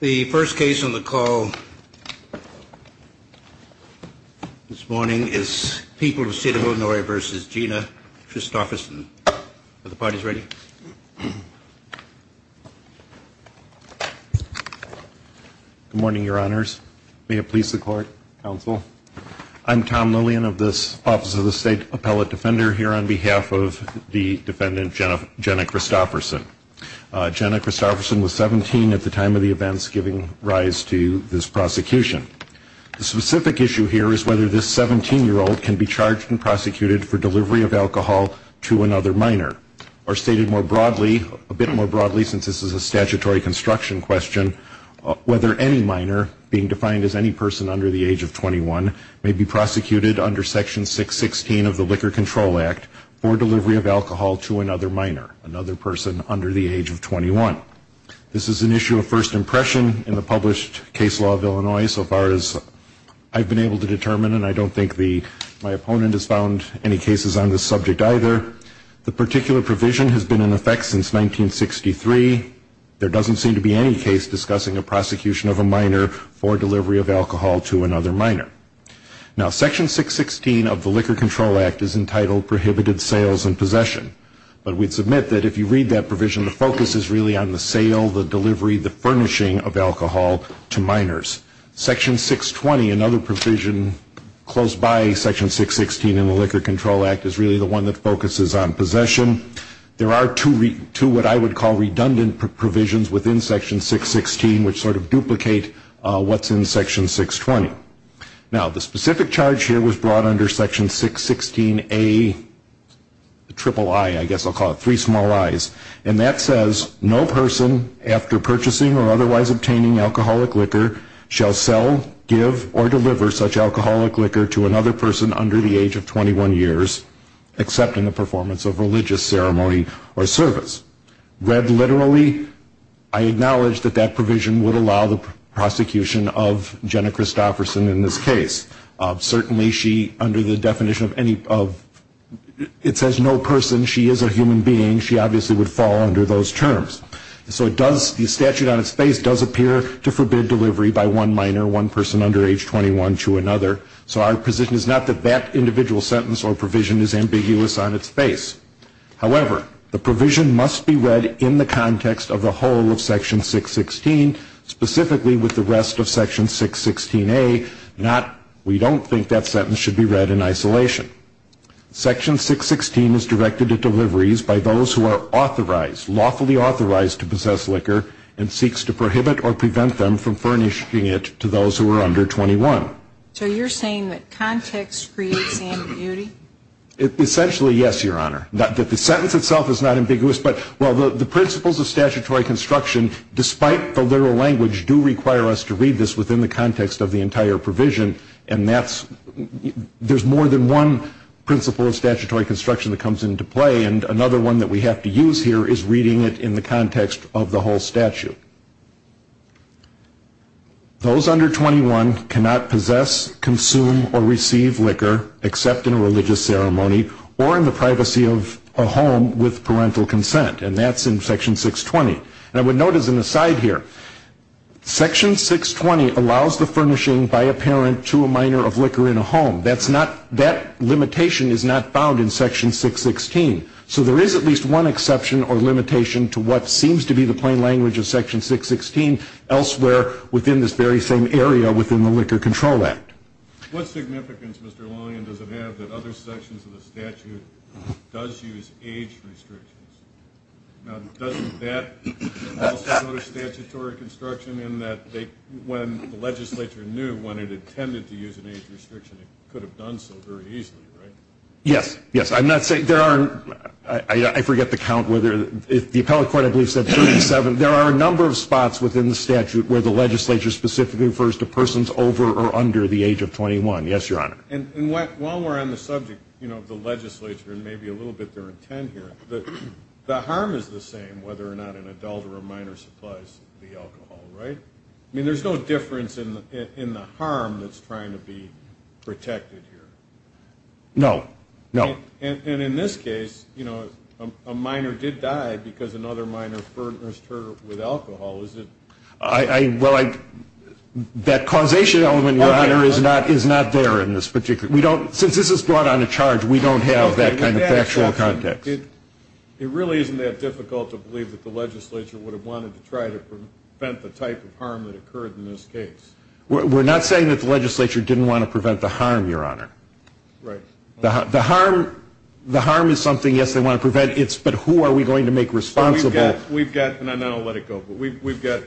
The first case on the call this morning is People of the State of Illinois v. Gina Christopherson. Are the parties ready? Good morning, Your Honors. May it please the Court, Counsel. I'm Tom Lillian of the Office of the State Appellate Defender here on behalf of the defendant, Jenna Christopherson. Jenna Christopherson was 17 at the time of the events giving rise to this prosecution. The specific issue here is whether this 17-year-old can be charged and prosecuted for delivery of alcohol to another minor. Or stated more broadly, a bit more broadly since this is a statutory construction question, whether any minor, being defined as any person under the age of 21, may be prosecuted under Section 616 of the Liquor Control Act for delivery of alcohol to another minor, another person under the age of 21. This is an issue of first impression in the published case law of Illinois so far as I've been able to determine, and I don't think my opponent has found any cases on this subject either. The particular provision has been in effect since 1963. There doesn't seem to be any case discussing a prosecution of a minor for delivery of alcohol to another minor. Now, Section 616 of the Liquor Control Act is entitled Prohibited Sales and Possession. But we'd submit that if you read that provision, the focus is really on the sale, the delivery, the furnishing of alcohol to minors. Section 620, another provision close by Section 616 in the Liquor Control Act, is really the one that focuses on possession. There are two what I would call redundant provisions within Section 616 which sort of duplicate what's in Section 620. Now, the specific charge here was brought under Section 616A, the triple I, I guess I'll call it, three small I's. And that says, no person, after purchasing or otherwise obtaining alcoholic liquor, shall sell, give, or deliver such alcoholic liquor to another person under the age of 21 years, except in the performance of religious ceremony or service. Read literally, I acknowledge that that provision would allow the prosecution of Jenna Christofferson in this case. Certainly she, under the definition of any of, it says no person, she is a human being, she obviously would fall under those terms. So it does, the statute on its face does appear to forbid delivery by one minor, one person under age 21, to another. So our position is not that that individual sentence or provision is ambiguous on its face. However, the provision must be read in the context of the whole of Section 616, specifically with the rest of Section 616A, not, we don't think that sentence should be read in isolation. Section 616 is directed at deliveries by those who are authorized, lawfully authorized to possess liquor and seeks to prohibit or prevent them from furnishing it to those who are under 21. So you're saying that context creates ambiguity? Essentially, yes, Your Honor. That the sentence itself is not ambiguous, but, well, the principles of statutory construction, despite the literal language, do require us to read this within the context of the entire provision, and that's, there's more than one principle of statutory construction that comes into play, and another one that we have to use here is reading it in the context of the whole statute. Those under 21 cannot possess, consume, or receive liquor except in a religious ceremony or in the privacy of a home with parental consent, and that's in Section 620. And I would note as an aside here, Section 620 allows the furnishing by a parent to a minor of liquor in a home. That's not, that limitation is not found in Section 616. So there is at least one exception or limitation to what seems to be the plain language of Section 616. Elsewhere within this very same area within the Liquor Control Act. What significance, Mr. Lanyon, does it have that other sections of the statute does use age restrictions? Now, doesn't that also go to statutory construction in that they, when the legislature knew when it intended to use an age restriction, it could have done so very easily, right? Yes, yes. I'm not saying, there are, I forget the count, whether, the appellate court, I believe, said 37. There are a number of spots within the statute where the legislature specifically refers to persons over or under the age of 21. Yes, Your Honor. And while we're on the subject, you know, of the legislature and maybe a little bit their intent here, the harm is the same whether or not an adult or a minor supplies the alcohol, right? I mean, there's no difference in the harm that's trying to be protected here. No, no. And in this case, you know, a minor did die because another minor furnished her with alcohol. Is it? Well, that causation element, Your Honor, is not there in this particular. We don't, since this is brought on a charge, we don't have that kind of factual context. It really isn't that difficult to believe that the legislature would have wanted to try to prevent the type of harm that occurred in this case. We're not saying that the legislature didn't want to prevent the harm, Your Honor. Right. The harm is something, yes, they want to prevent, but who are we going to make responsible? We've got, and then I'll let it go, but we've got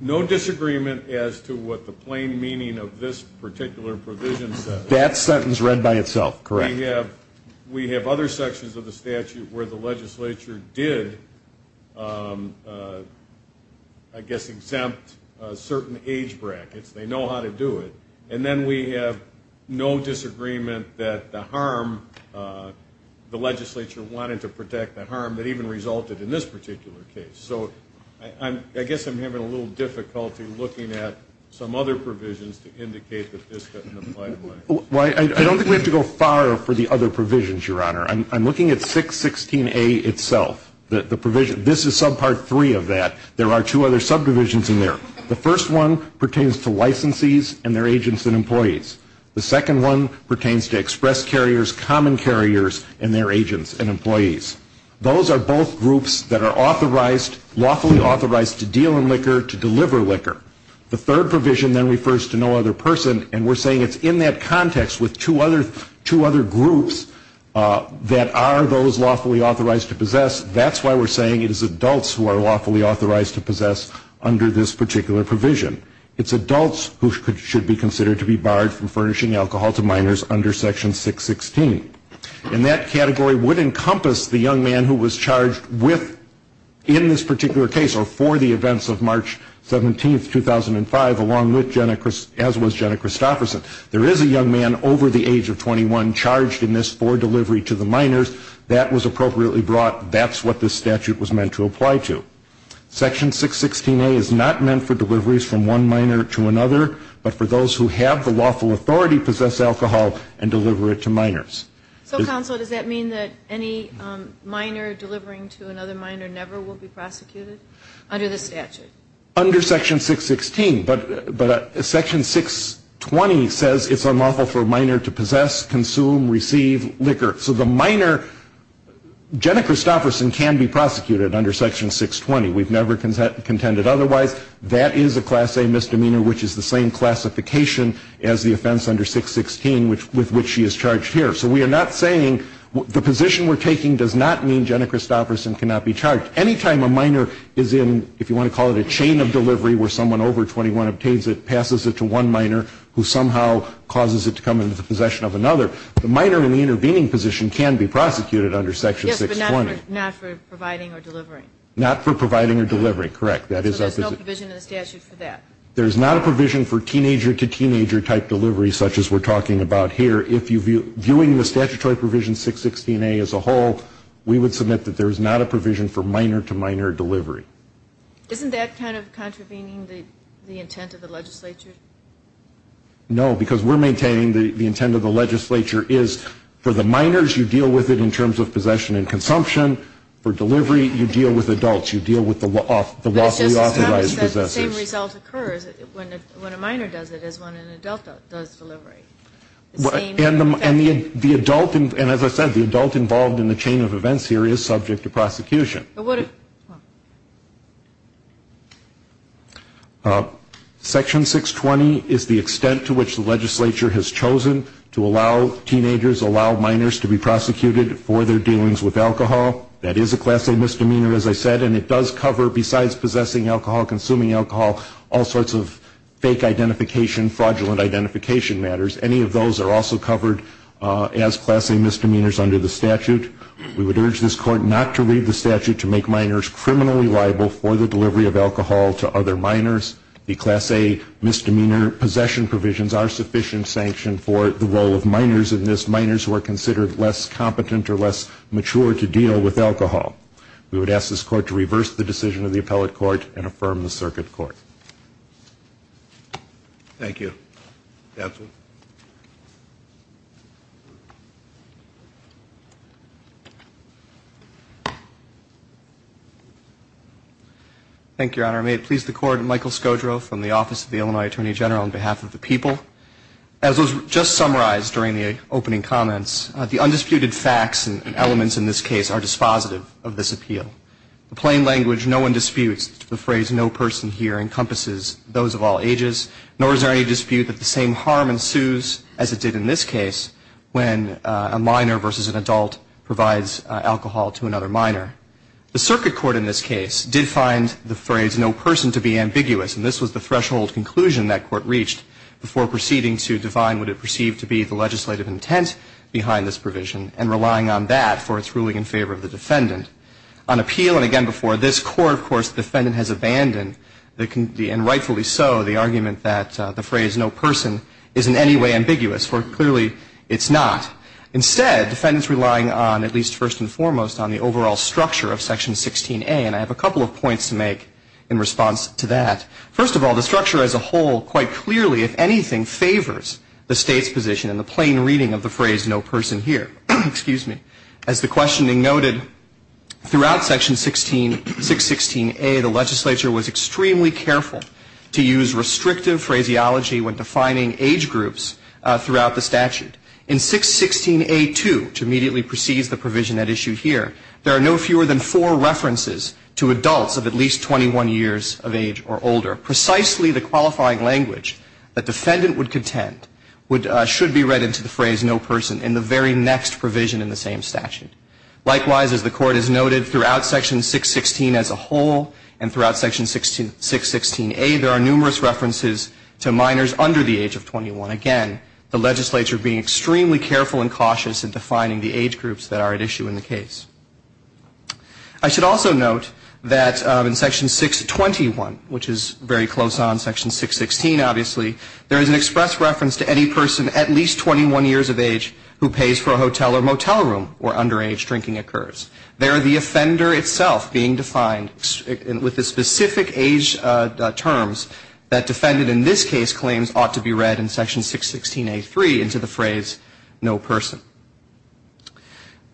no disagreement as to what the plain meaning of this particular provision says. That sentence read by itself, correct. We have other sections of the statute where the legislature did, I guess, exempt certain age brackets. They know how to do it. And then we have no disagreement that the harm, the legislature wanted to protect the harm that even resulted in this particular case. So I guess I'm having a little difficulty looking at some other provisions to indicate that this doesn't apply to minors. I don't think we have to go far for the other provisions, Your Honor. I'm looking at 616A itself, the provision. This is subpart three of that. There are two other subdivisions in there. The first one pertains to licensees and their agents and employees. The second one pertains to express carriers, common carriers, and their agents and employees. Those are both groups that are authorized, lawfully authorized to deal in liquor, to deliver liquor. The third provision then refers to no other person, and we're saying it's in that context with two other groups that are those lawfully authorized to possess. That's why we're saying it is adults who are lawfully authorized to possess under this particular provision. It's adults who should be considered to be barred from furnishing alcohol to minors under Section 616. And that category would encompass the young man who was charged with, in this particular case, or for the events of March 17, 2005, along with Jenna, as was Jenna Christopherson. There is a young man over the age of 21 charged in this for delivery to the minors. That was appropriately brought. That's what this statute was meant to apply to. Section 616A is not meant for deliveries from one minor to another, but for those who have the lawful authority to possess alcohol and deliver it to minors. So, counsel, does that mean that any minor delivering to another minor never will be prosecuted under this statute? Under Section 616. But Section 620 says it's unlawful for a minor to possess, consume, receive liquor. So the minor, Jenna Christopherson can be prosecuted under Section 620. We've never contended otherwise. That is a Class A misdemeanor, which is the same classification as the offense under 616 with which she is charged here. So we are not saying, the position we're taking does not mean Jenna Christopherson cannot be charged. Any time a minor is in, if you want to call it a chain of delivery where someone over 21 obtains it, passes it to one minor who somehow causes it to come into the possession of another, the minor in the intervening position can be prosecuted under Section 620. Yes, but not for providing or delivering. Not for providing or delivering, correct. So there's no provision in the statute for that? There's not a provision for teenager-to-teenager-type delivery such as we're talking about here. If you're viewing the statutory provision 616A as a whole, we would submit that there is not a provision for minor-to-minor delivery. Isn't that kind of contravening the intent of the legislature? No, because we're maintaining the intent of the legislature is for the minors, you deal with it in terms of possession and consumption. For delivery, you deal with adults. You deal with the lawfully authorized possessors. But it's just the same result occurs when a minor does it as when an adult does delivery. And as I said, the adult involved in the chain of events here is subject to prosecution. Section 620 is the extent to which the legislature has chosen to allow teenagers, allow minors to be prosecuted for their dealings with alcohol. That is a Class A misdemeanor, as I said, and it does cover besides possessing alcohol, consuming alcohol, all sorts of fake identification, fraudulent identification matters. Any of those are also covered as Class A misdemeanors under the statute. The legislature has chosen to make minors criminally liable for the delivery of alcohol to other minors. The Class A misdemeanor possession provisions are sufficient sanction for the role of minors in this, minors who are considered less competent or less mature to deal with alcohol. We would ask this Court to reverse the decision of the Appellate Court and affirm the Circuit Court. Thank you. Counsel. Thank you, Your Honor. May it please the Court, Michael Scodro from the Office of the Illinois Attorney General on behalf of the people. As was just summarized during the opening comments, the undisputed facts and elements in this case are dispositive of this appeal. In plain language, no one disputes the phrase no person here encompasses those of all ages, nor is there any dispute that the same harm ensues as it did in this case when a minor versus an adult provides alcohol to another minor. The Circuit Court in this case did find the phrase no person to be ambiguous, and this was the threshold conclusion that Court reached before proceeding to define what it perceived to be the legislative intent behind this provision and relying on that for its ruling in favor of the defendant. On appeal, and again before this Court, of course, the defendant has abandoned, and rightfully so, the argument that the phrase no person is in any way ambiguous, for clearly it's not. Instead, the defendant is relying on, at least first and foremost, on the overall structure of Section 16A, and I have a couple of points to make in response to that. First of all, the structure as a whole quite clearly, if anything, favors the State's position in the plain reading of the phrase no person here. As the questioning noted, throughout Section 616A, the legislature was extremely careful to use restrictive phraseology when defining age groups throughout the statute. In 616A2, to immediately precede the provision at issue here, there are no fewer than four references to adults of at least 21 years of age or older. Precisely the qualifying language that the defendant would contend should be read into the phrase no person in the very next provision in the same statute. Likewise, as the Court has noted, throughout Section 616 as a whole, and throughout Section 616A, there are numerous references to minors under the age of 21. Again, the legislature being extremely careful and cautious in defining the age groups that are at issue in the case. I should also note that in Section 621, which is very close on Section 616, obviously, there is an express reference to any person at least 21 years of age who pays for a hotel or motel room where underage drinking occurs. There, the offender itself being defined with the specific age terms that defendant in this case claims ought to be read in Section 616A3 into the phrase no person.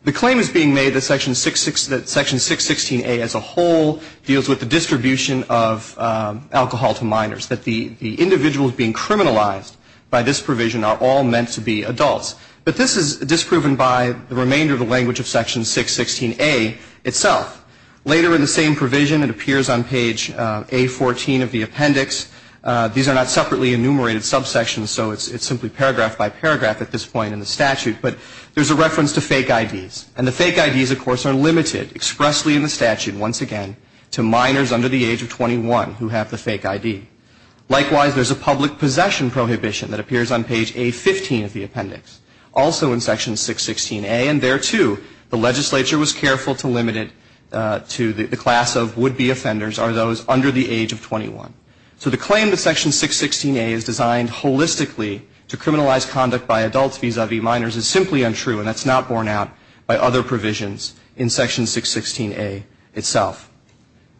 The claim is being made that Section 616A as a whole deals with the distribution of alcohol to minors, that the individuals being criminalized by this provision are all meant to be adults. But this is disproven by the remainder of the language of Section 616A itself. Later in the same provision, it appears on page A14 of the appendix. These are not separately enumerated subsections, so it's simply paragraph by paragraph at this point in the statute. But there's a reference to fake IDs. And the fake IDs, of course, are limited expressly in the statute, once again, to minors under the age of 21 who have the fake ID. Likewise, there's a public possession prohibition that appears on page A15 of the appendix, also in Section 616A. And there, too, the legislature was careful to limit it to the class of would-be offenders are those under the age of 21. So the claim that Section 616A is designed holistically to criminalize conduct by adults vis-à-vis minors is simply untrue, and that's not borne out by other provisions in Section 616A itself.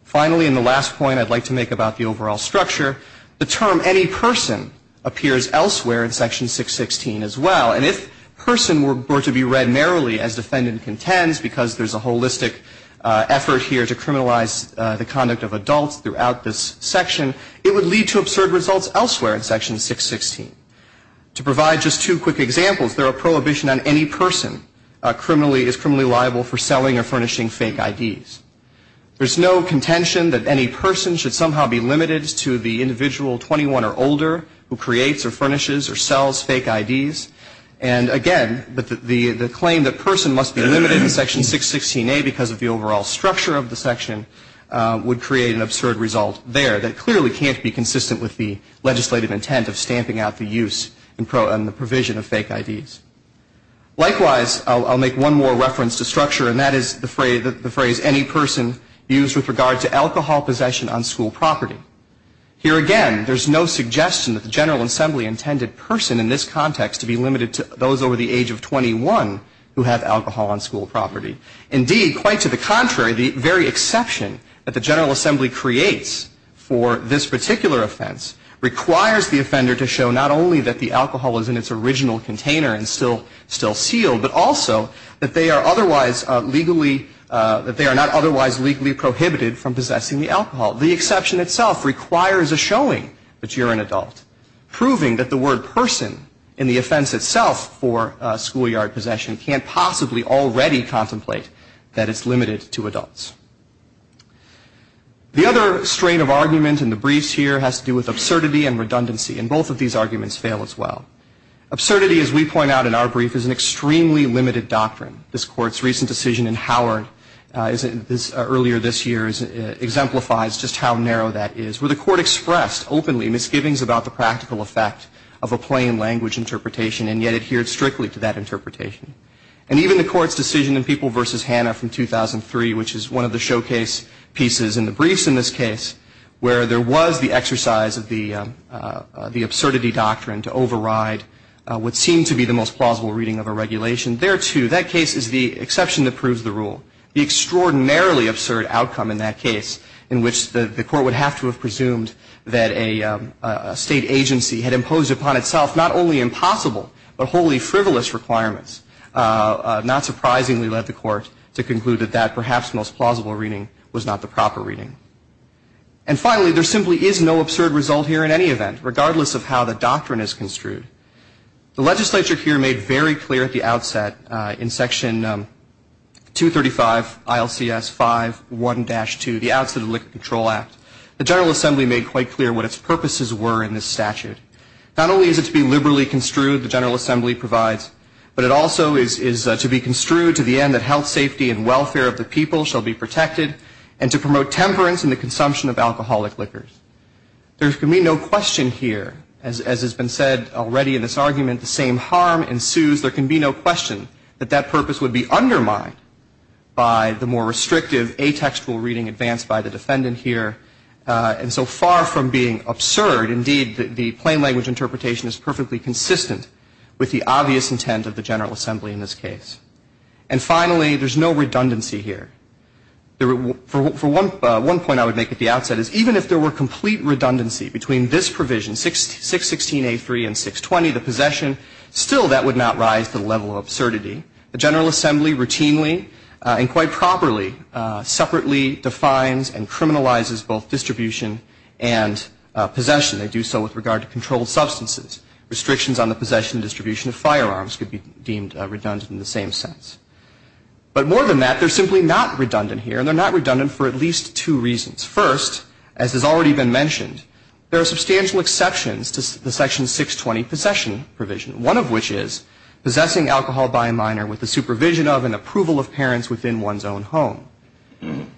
Finally, in the last point I'd like to make about the overall structure, the term any person appears elsewhere in Section 616 as well. And if person were to be read narrowly as defendant contends, because there's a holistic effort here to criminalize the conduct of adults throughout this section, it would lead to absurd results elsewhere in Section 616. To provide just two quick examples, there are prohibition on any person is criminally liable for selling or furnishing fake IDs. There's no contention that any person should somehow be limited to the individual 21 or older who creates or furnishes or sells fake IDs. And, again, the claim that person must be limited in Section 616A because of the overall structure of the section would create an absurd result there that clearly can't be consistent with the legislative intent of stamping out the use and the provision of fake IDs. Likewise, I'll make one more reference to structure, and that is the phrase any person used with regard to alcohol possession on school property. Here, again, there's no suggestion that the General Assembly intended person in this context to be limited to those over the age of 21 who have alcohol on school property. Indeed, quite to the contrary, the very exception that the General Assembly creates for this particular offense requires the offender to show not only that the alcohol is in its original container and still sealed, but also that they are otherwise legally – that they are not otherwise legally prohibited from possessing the alcohol. The exception itself requires a showing that you're an adult, proving that the word person in the offense itself for schoolyard possession can't possibly already contemplate that it's limited to adults. The other strain of argument in the briefs here has to do with absurdity and redundancy, and both of these arguments fail as well. Absurdity, as we point out in our brief, is an extremely limited doctrine. This Court's recent decision in Howard earlier this year exemplifies just how narrow that is, where the Court expressed openly misgivings about the practical effect of a plain language interpretation and yet adhered strictly to that interpretation. And even the Court's decision in People v. Hanna from 2003, which is one of the showcase pieces in the briefs in this case, where there was the exercise of the absurdity doctrine to override what seemed to be the most plausible reading of a regulation. There, too, that case is the exception that proves the rule. The extraordinarily absurd outcome in that case in which the Court would have to have presumed that a state agency had imposed upon itself not only impossible but wholly frivolous requirements, not surprisingly led the Court to conclude that that perhaps most plausible reading was not the proper reading. And finally, there simply is no absurd result here in any event, regardless of how the doctrine is construed. The legislature here made very clear at the outset in Section 235, ILCS 5.1-2, the Outset of the Liquor Control Act. The General Assembly made quite clear what its purposes were in this statute. Not only is it to be liberally construed, the General Assembly provides, but it also is to be construed to the end that health, safety, and welfare of the people shall be protected and to promote temperance in the consumption of alcoholic liquors. There can be no question here, as has been said already in this argument, the same harm ensues. There can be no question that that purpose would be undermined by the more restrictive atextual reading advanced by the defendant here. And so far from being absurd, indeed, the plain language interpretation is perfectly consistent with the obvious intent of the General Assembly in this case. And finally, there's no redundancy here. For one point I would make at the outset is even if there were complete redundancy between this provision, 616a3 and 620, the possession, still that would not rise to the level of absurdity. The General Assembly routinely and quite properly separately defines and criminalizes both distribution and possession. They do so with regard to controlled substances. Restrictions on the possession and distribution of firearms could be deemed redundant in the same sense. But more than that, they're simply not redundant here, and they're not redundant for at least two reasons. First, as has already been mentioned, there are substantial exceptions to the section 620 possession provision, one of which is possessing alcohol by a minor with the supervision of and approval of parents within one's own home.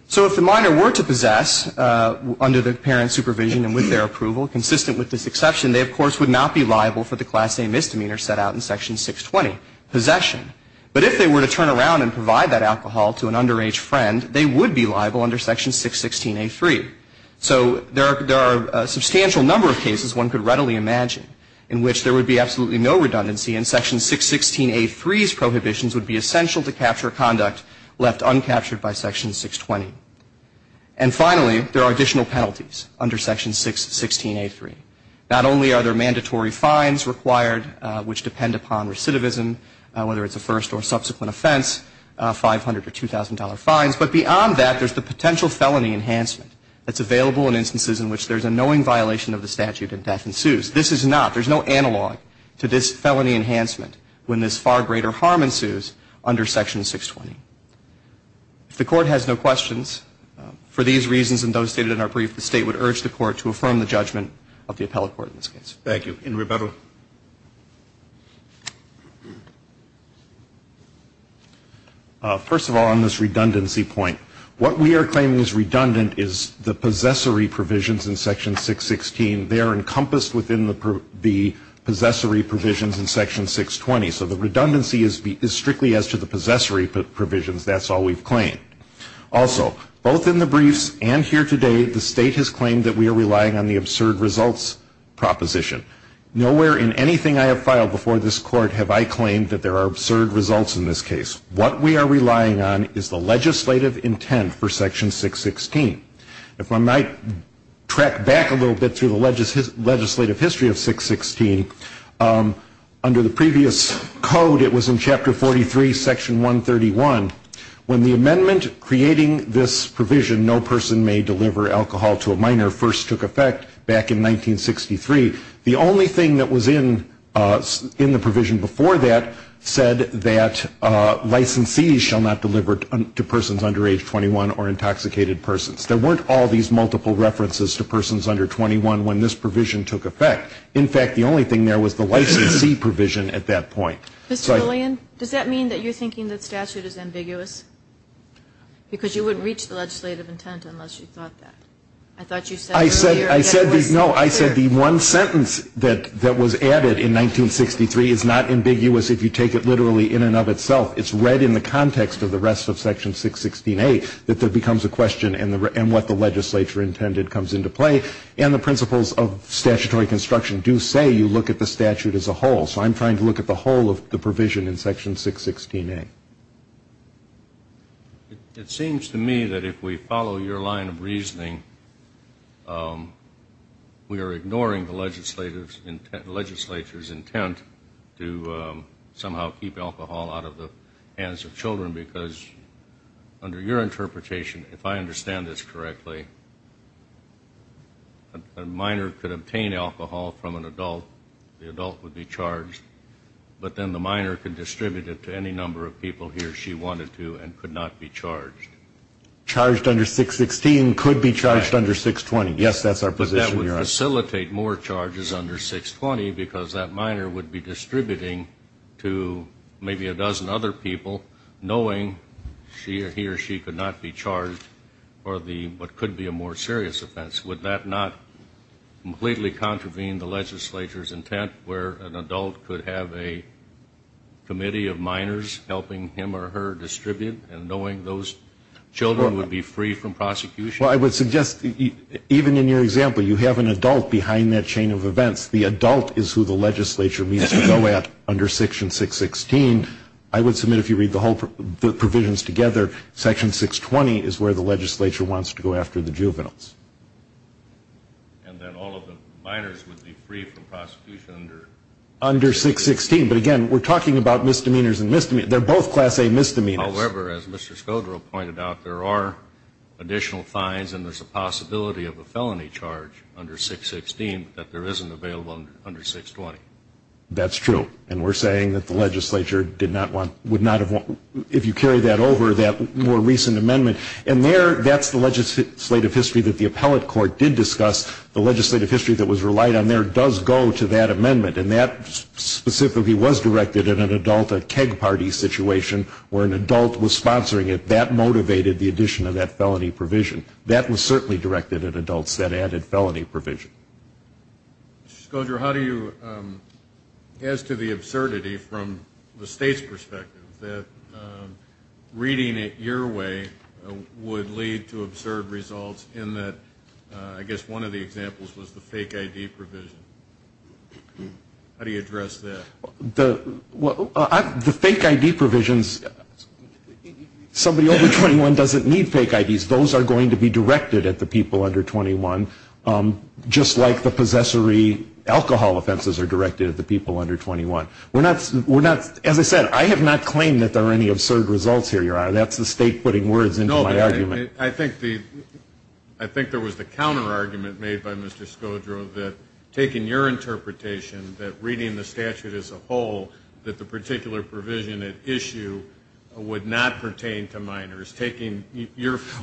So if the minor were to possess under the parent's supervision and with their approval, consistent with this exception, they, of course, would not be liable for the Class A misdemeanor set out in Section 620, possession. But if they were to turn around and provide that alcohol to an underage friend, they would be liable under Section 616a3. So there are a substantial number of cases one could readily imagine in which there would be absolutely no redundancy, and Section 616a3's prohibitions would be essential to capture conduct left uncaptured by Section 620. And finally, there are additional penalties under Section 616a3. Not only are there mandatory fines required, which depend upon recidivism, whether it's a first or subsequent offense, 500 or $2,000 fines, but beyond that, there's the potential felony enhancement that's available in instances in which there's a knowing violation of the statute and death ensues. This is not. There's no analog to this felony enhancement when this far greater harm ensues under Section 620. If the Court has no questions, for these reasons and those stated in our brief, the State would urge the Court to affirm the judgment of the appellate court in this case. Thank you. In rebuttal. First of all, on this redundancy point, what we are claiming is redundant is the possessory provisions in Section 616. They are encompassed within the possessory provisions in Section 620. So the redundancy is strictly as to the possessory provisions. That's all we've claimed. Also, both in the briefs and here today, the State has claimed that we are relying on the absurd results proposition. Nowhere in anything I have filed before this Court have I claimed that there are absurd results in this case. What we are relying on is the legislative intent for Section 616. If I might track back a little bit through the legislative history of 616, under the previous code, it was in Chapter 43, Section 131, when the amendment creating this provision, no person may deliver alcohol to a minor, first took effect back in 1963. The only thing that was in the provision before that said that licensees shall not deliver to persons under age 21 or intoxicated persons. There weren't all these multiple references to persons under 21 when this provision took effect. In fact, the only thing there was the licensee provision at that point. Mr. Lillian, does that mean that you're thinking that statute is ambiguous? Because you wouldn't reach the legislative intent unless you thought that. I thought you said earlier that it wasn't clear. No, I said the one sentence that was added in 1963 is not ambiguous if you take it literally in and of itself. It's read in the context of the rest of Section 616A that there becomes a question and what the legislature intended comes into play. And the principles of statutory construction do say you look at the statute as a whole. So I'm trying to look at the whole of the provision in Section 616A. It seems to me that if we follow your line of reasoning, we are ignoring the legislature's intent to somehow keep alcohol out of the hands of children because under your interpretation, if I understand this correctly, a minor could obtain alcohol from an adult, the adult would be charged, but then the minor could distribute it to any number of people he or she wanted to and could not be charged. Charged under 616 could be charged under 620. Yes, that's our position. But that would facilitate more charges under 620 because that minor would be distributing to maybe a dozen other people knowing he or she could not be charged for what could be a more serious offense. Would that not completely contravene the legislature's intent where an adult could have a committee of minors helping him or her distribute and knowing those children would be free from prosecution? Well, I would suggest even in your example, you have an adult behind that chain of events. The adult is who the legislature means to go at under Section 616. I mean, I would submit if you read the whole provisions together, Section 620 is where the legislature wants to go after the juveniles. And then all of the minors would be free from prosecution under? Under 616, but again, we're talking about misdemeanors and misdemeanors. They're both Class A misdemeanors. However, as Mr. Scodro pointed out, there are additional fines and there's a possibility of a felony charge under 616 that there isn't available under 620. That's true. And we're saying that the legislature did not want, would not have, if you carry that over, that more recent amendment. And there, that's the legislative history that the appellate court did discuss. The legislative history that was relied on there does go to that amendment. And that specifically was directed at an adult, a keg party situation where an adult was sponsoring it. That motivated the addition of that felony provision. That was certainly directed at adults, that added felony provision. Mr. Scodro, how do you, as to the absurdity from the state's perspective, that reading it your way would lead to absurd results in that, I guess, one of the examples was the fake ID provision. How do you address that? The fake ID provisions, somebody over 21 doesn't need fake IDs. Those are going to be directed at the people under 21, just like the possessory alcohol offenses are directed at the people under 21. We're not, as I said, I have not claimed that there are any absurd results here, Your Honor. That's the state putting words into my argument. No, but I think there was the counterargument made by Mr. Scodro that taking your interpretation that reading the statute as a whole, that the particular provision at issue would not pertain to minors.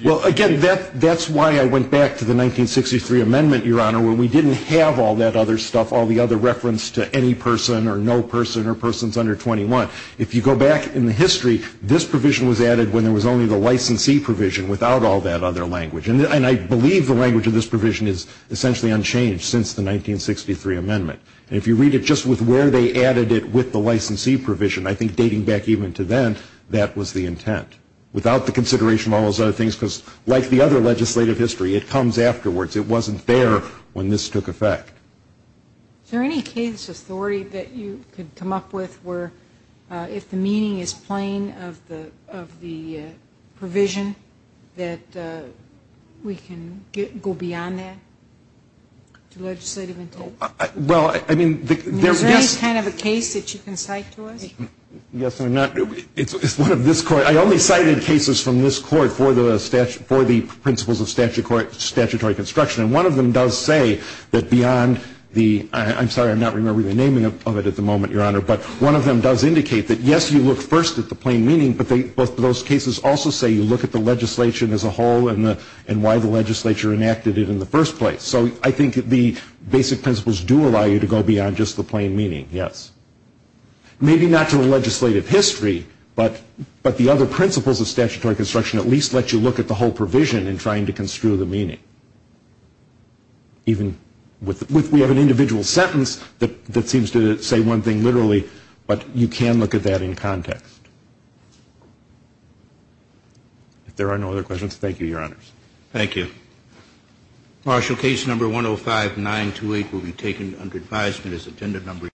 Well, again, that's why I went back to the 1963 amendment, Your Honor, where we didn't have all that other stuff, all the other reference to any person or no person or persons under 21. If you go back in the history, this provision was added when there was only the licensee provision without all that other language. And I believe the language of this provision is essentially unchanged since the 1963 amendment. And if you read it just with where they added it with the licensee provision, I think dating back even to then, that was the intent. Without the consideration of all those other things, because like the other legislative history, it comes afterwards. It wasn't there when this took effect. Is there any case, Authority, that you could come up with where, if the meaning is plain of the provision, that we can go beyond that to legislative intent? Well, I mean, there is. Is there any kind of a case that you can cite to us? Yes, I'm not. It's one of this court. I only cited cases from this court for the principles of statutory construction. And one of them does say that beyond the ‑‑ I'm sorry, I'm not remembering the naming of it at the moment, Your Honor. But one of them does indicate that, yes, you look first at the plain meaning, but both of those cases also say you look at the legislation as a whole and why the legislature enacted it in the first place. So I think the basic principles do allow you to go beyond just the plain meaning, yes. Maybe not to a legislative history, but the other principles of statutory construction at least let you look at the whole provision in trying to construe the meaning. We have an individual sentence that seems to say one thing literally, but you can look at that in context. If there are no other questions, thank you, Your Honors. Thank you. Martial case number 105928 will be taken under advisement as agenda number 8.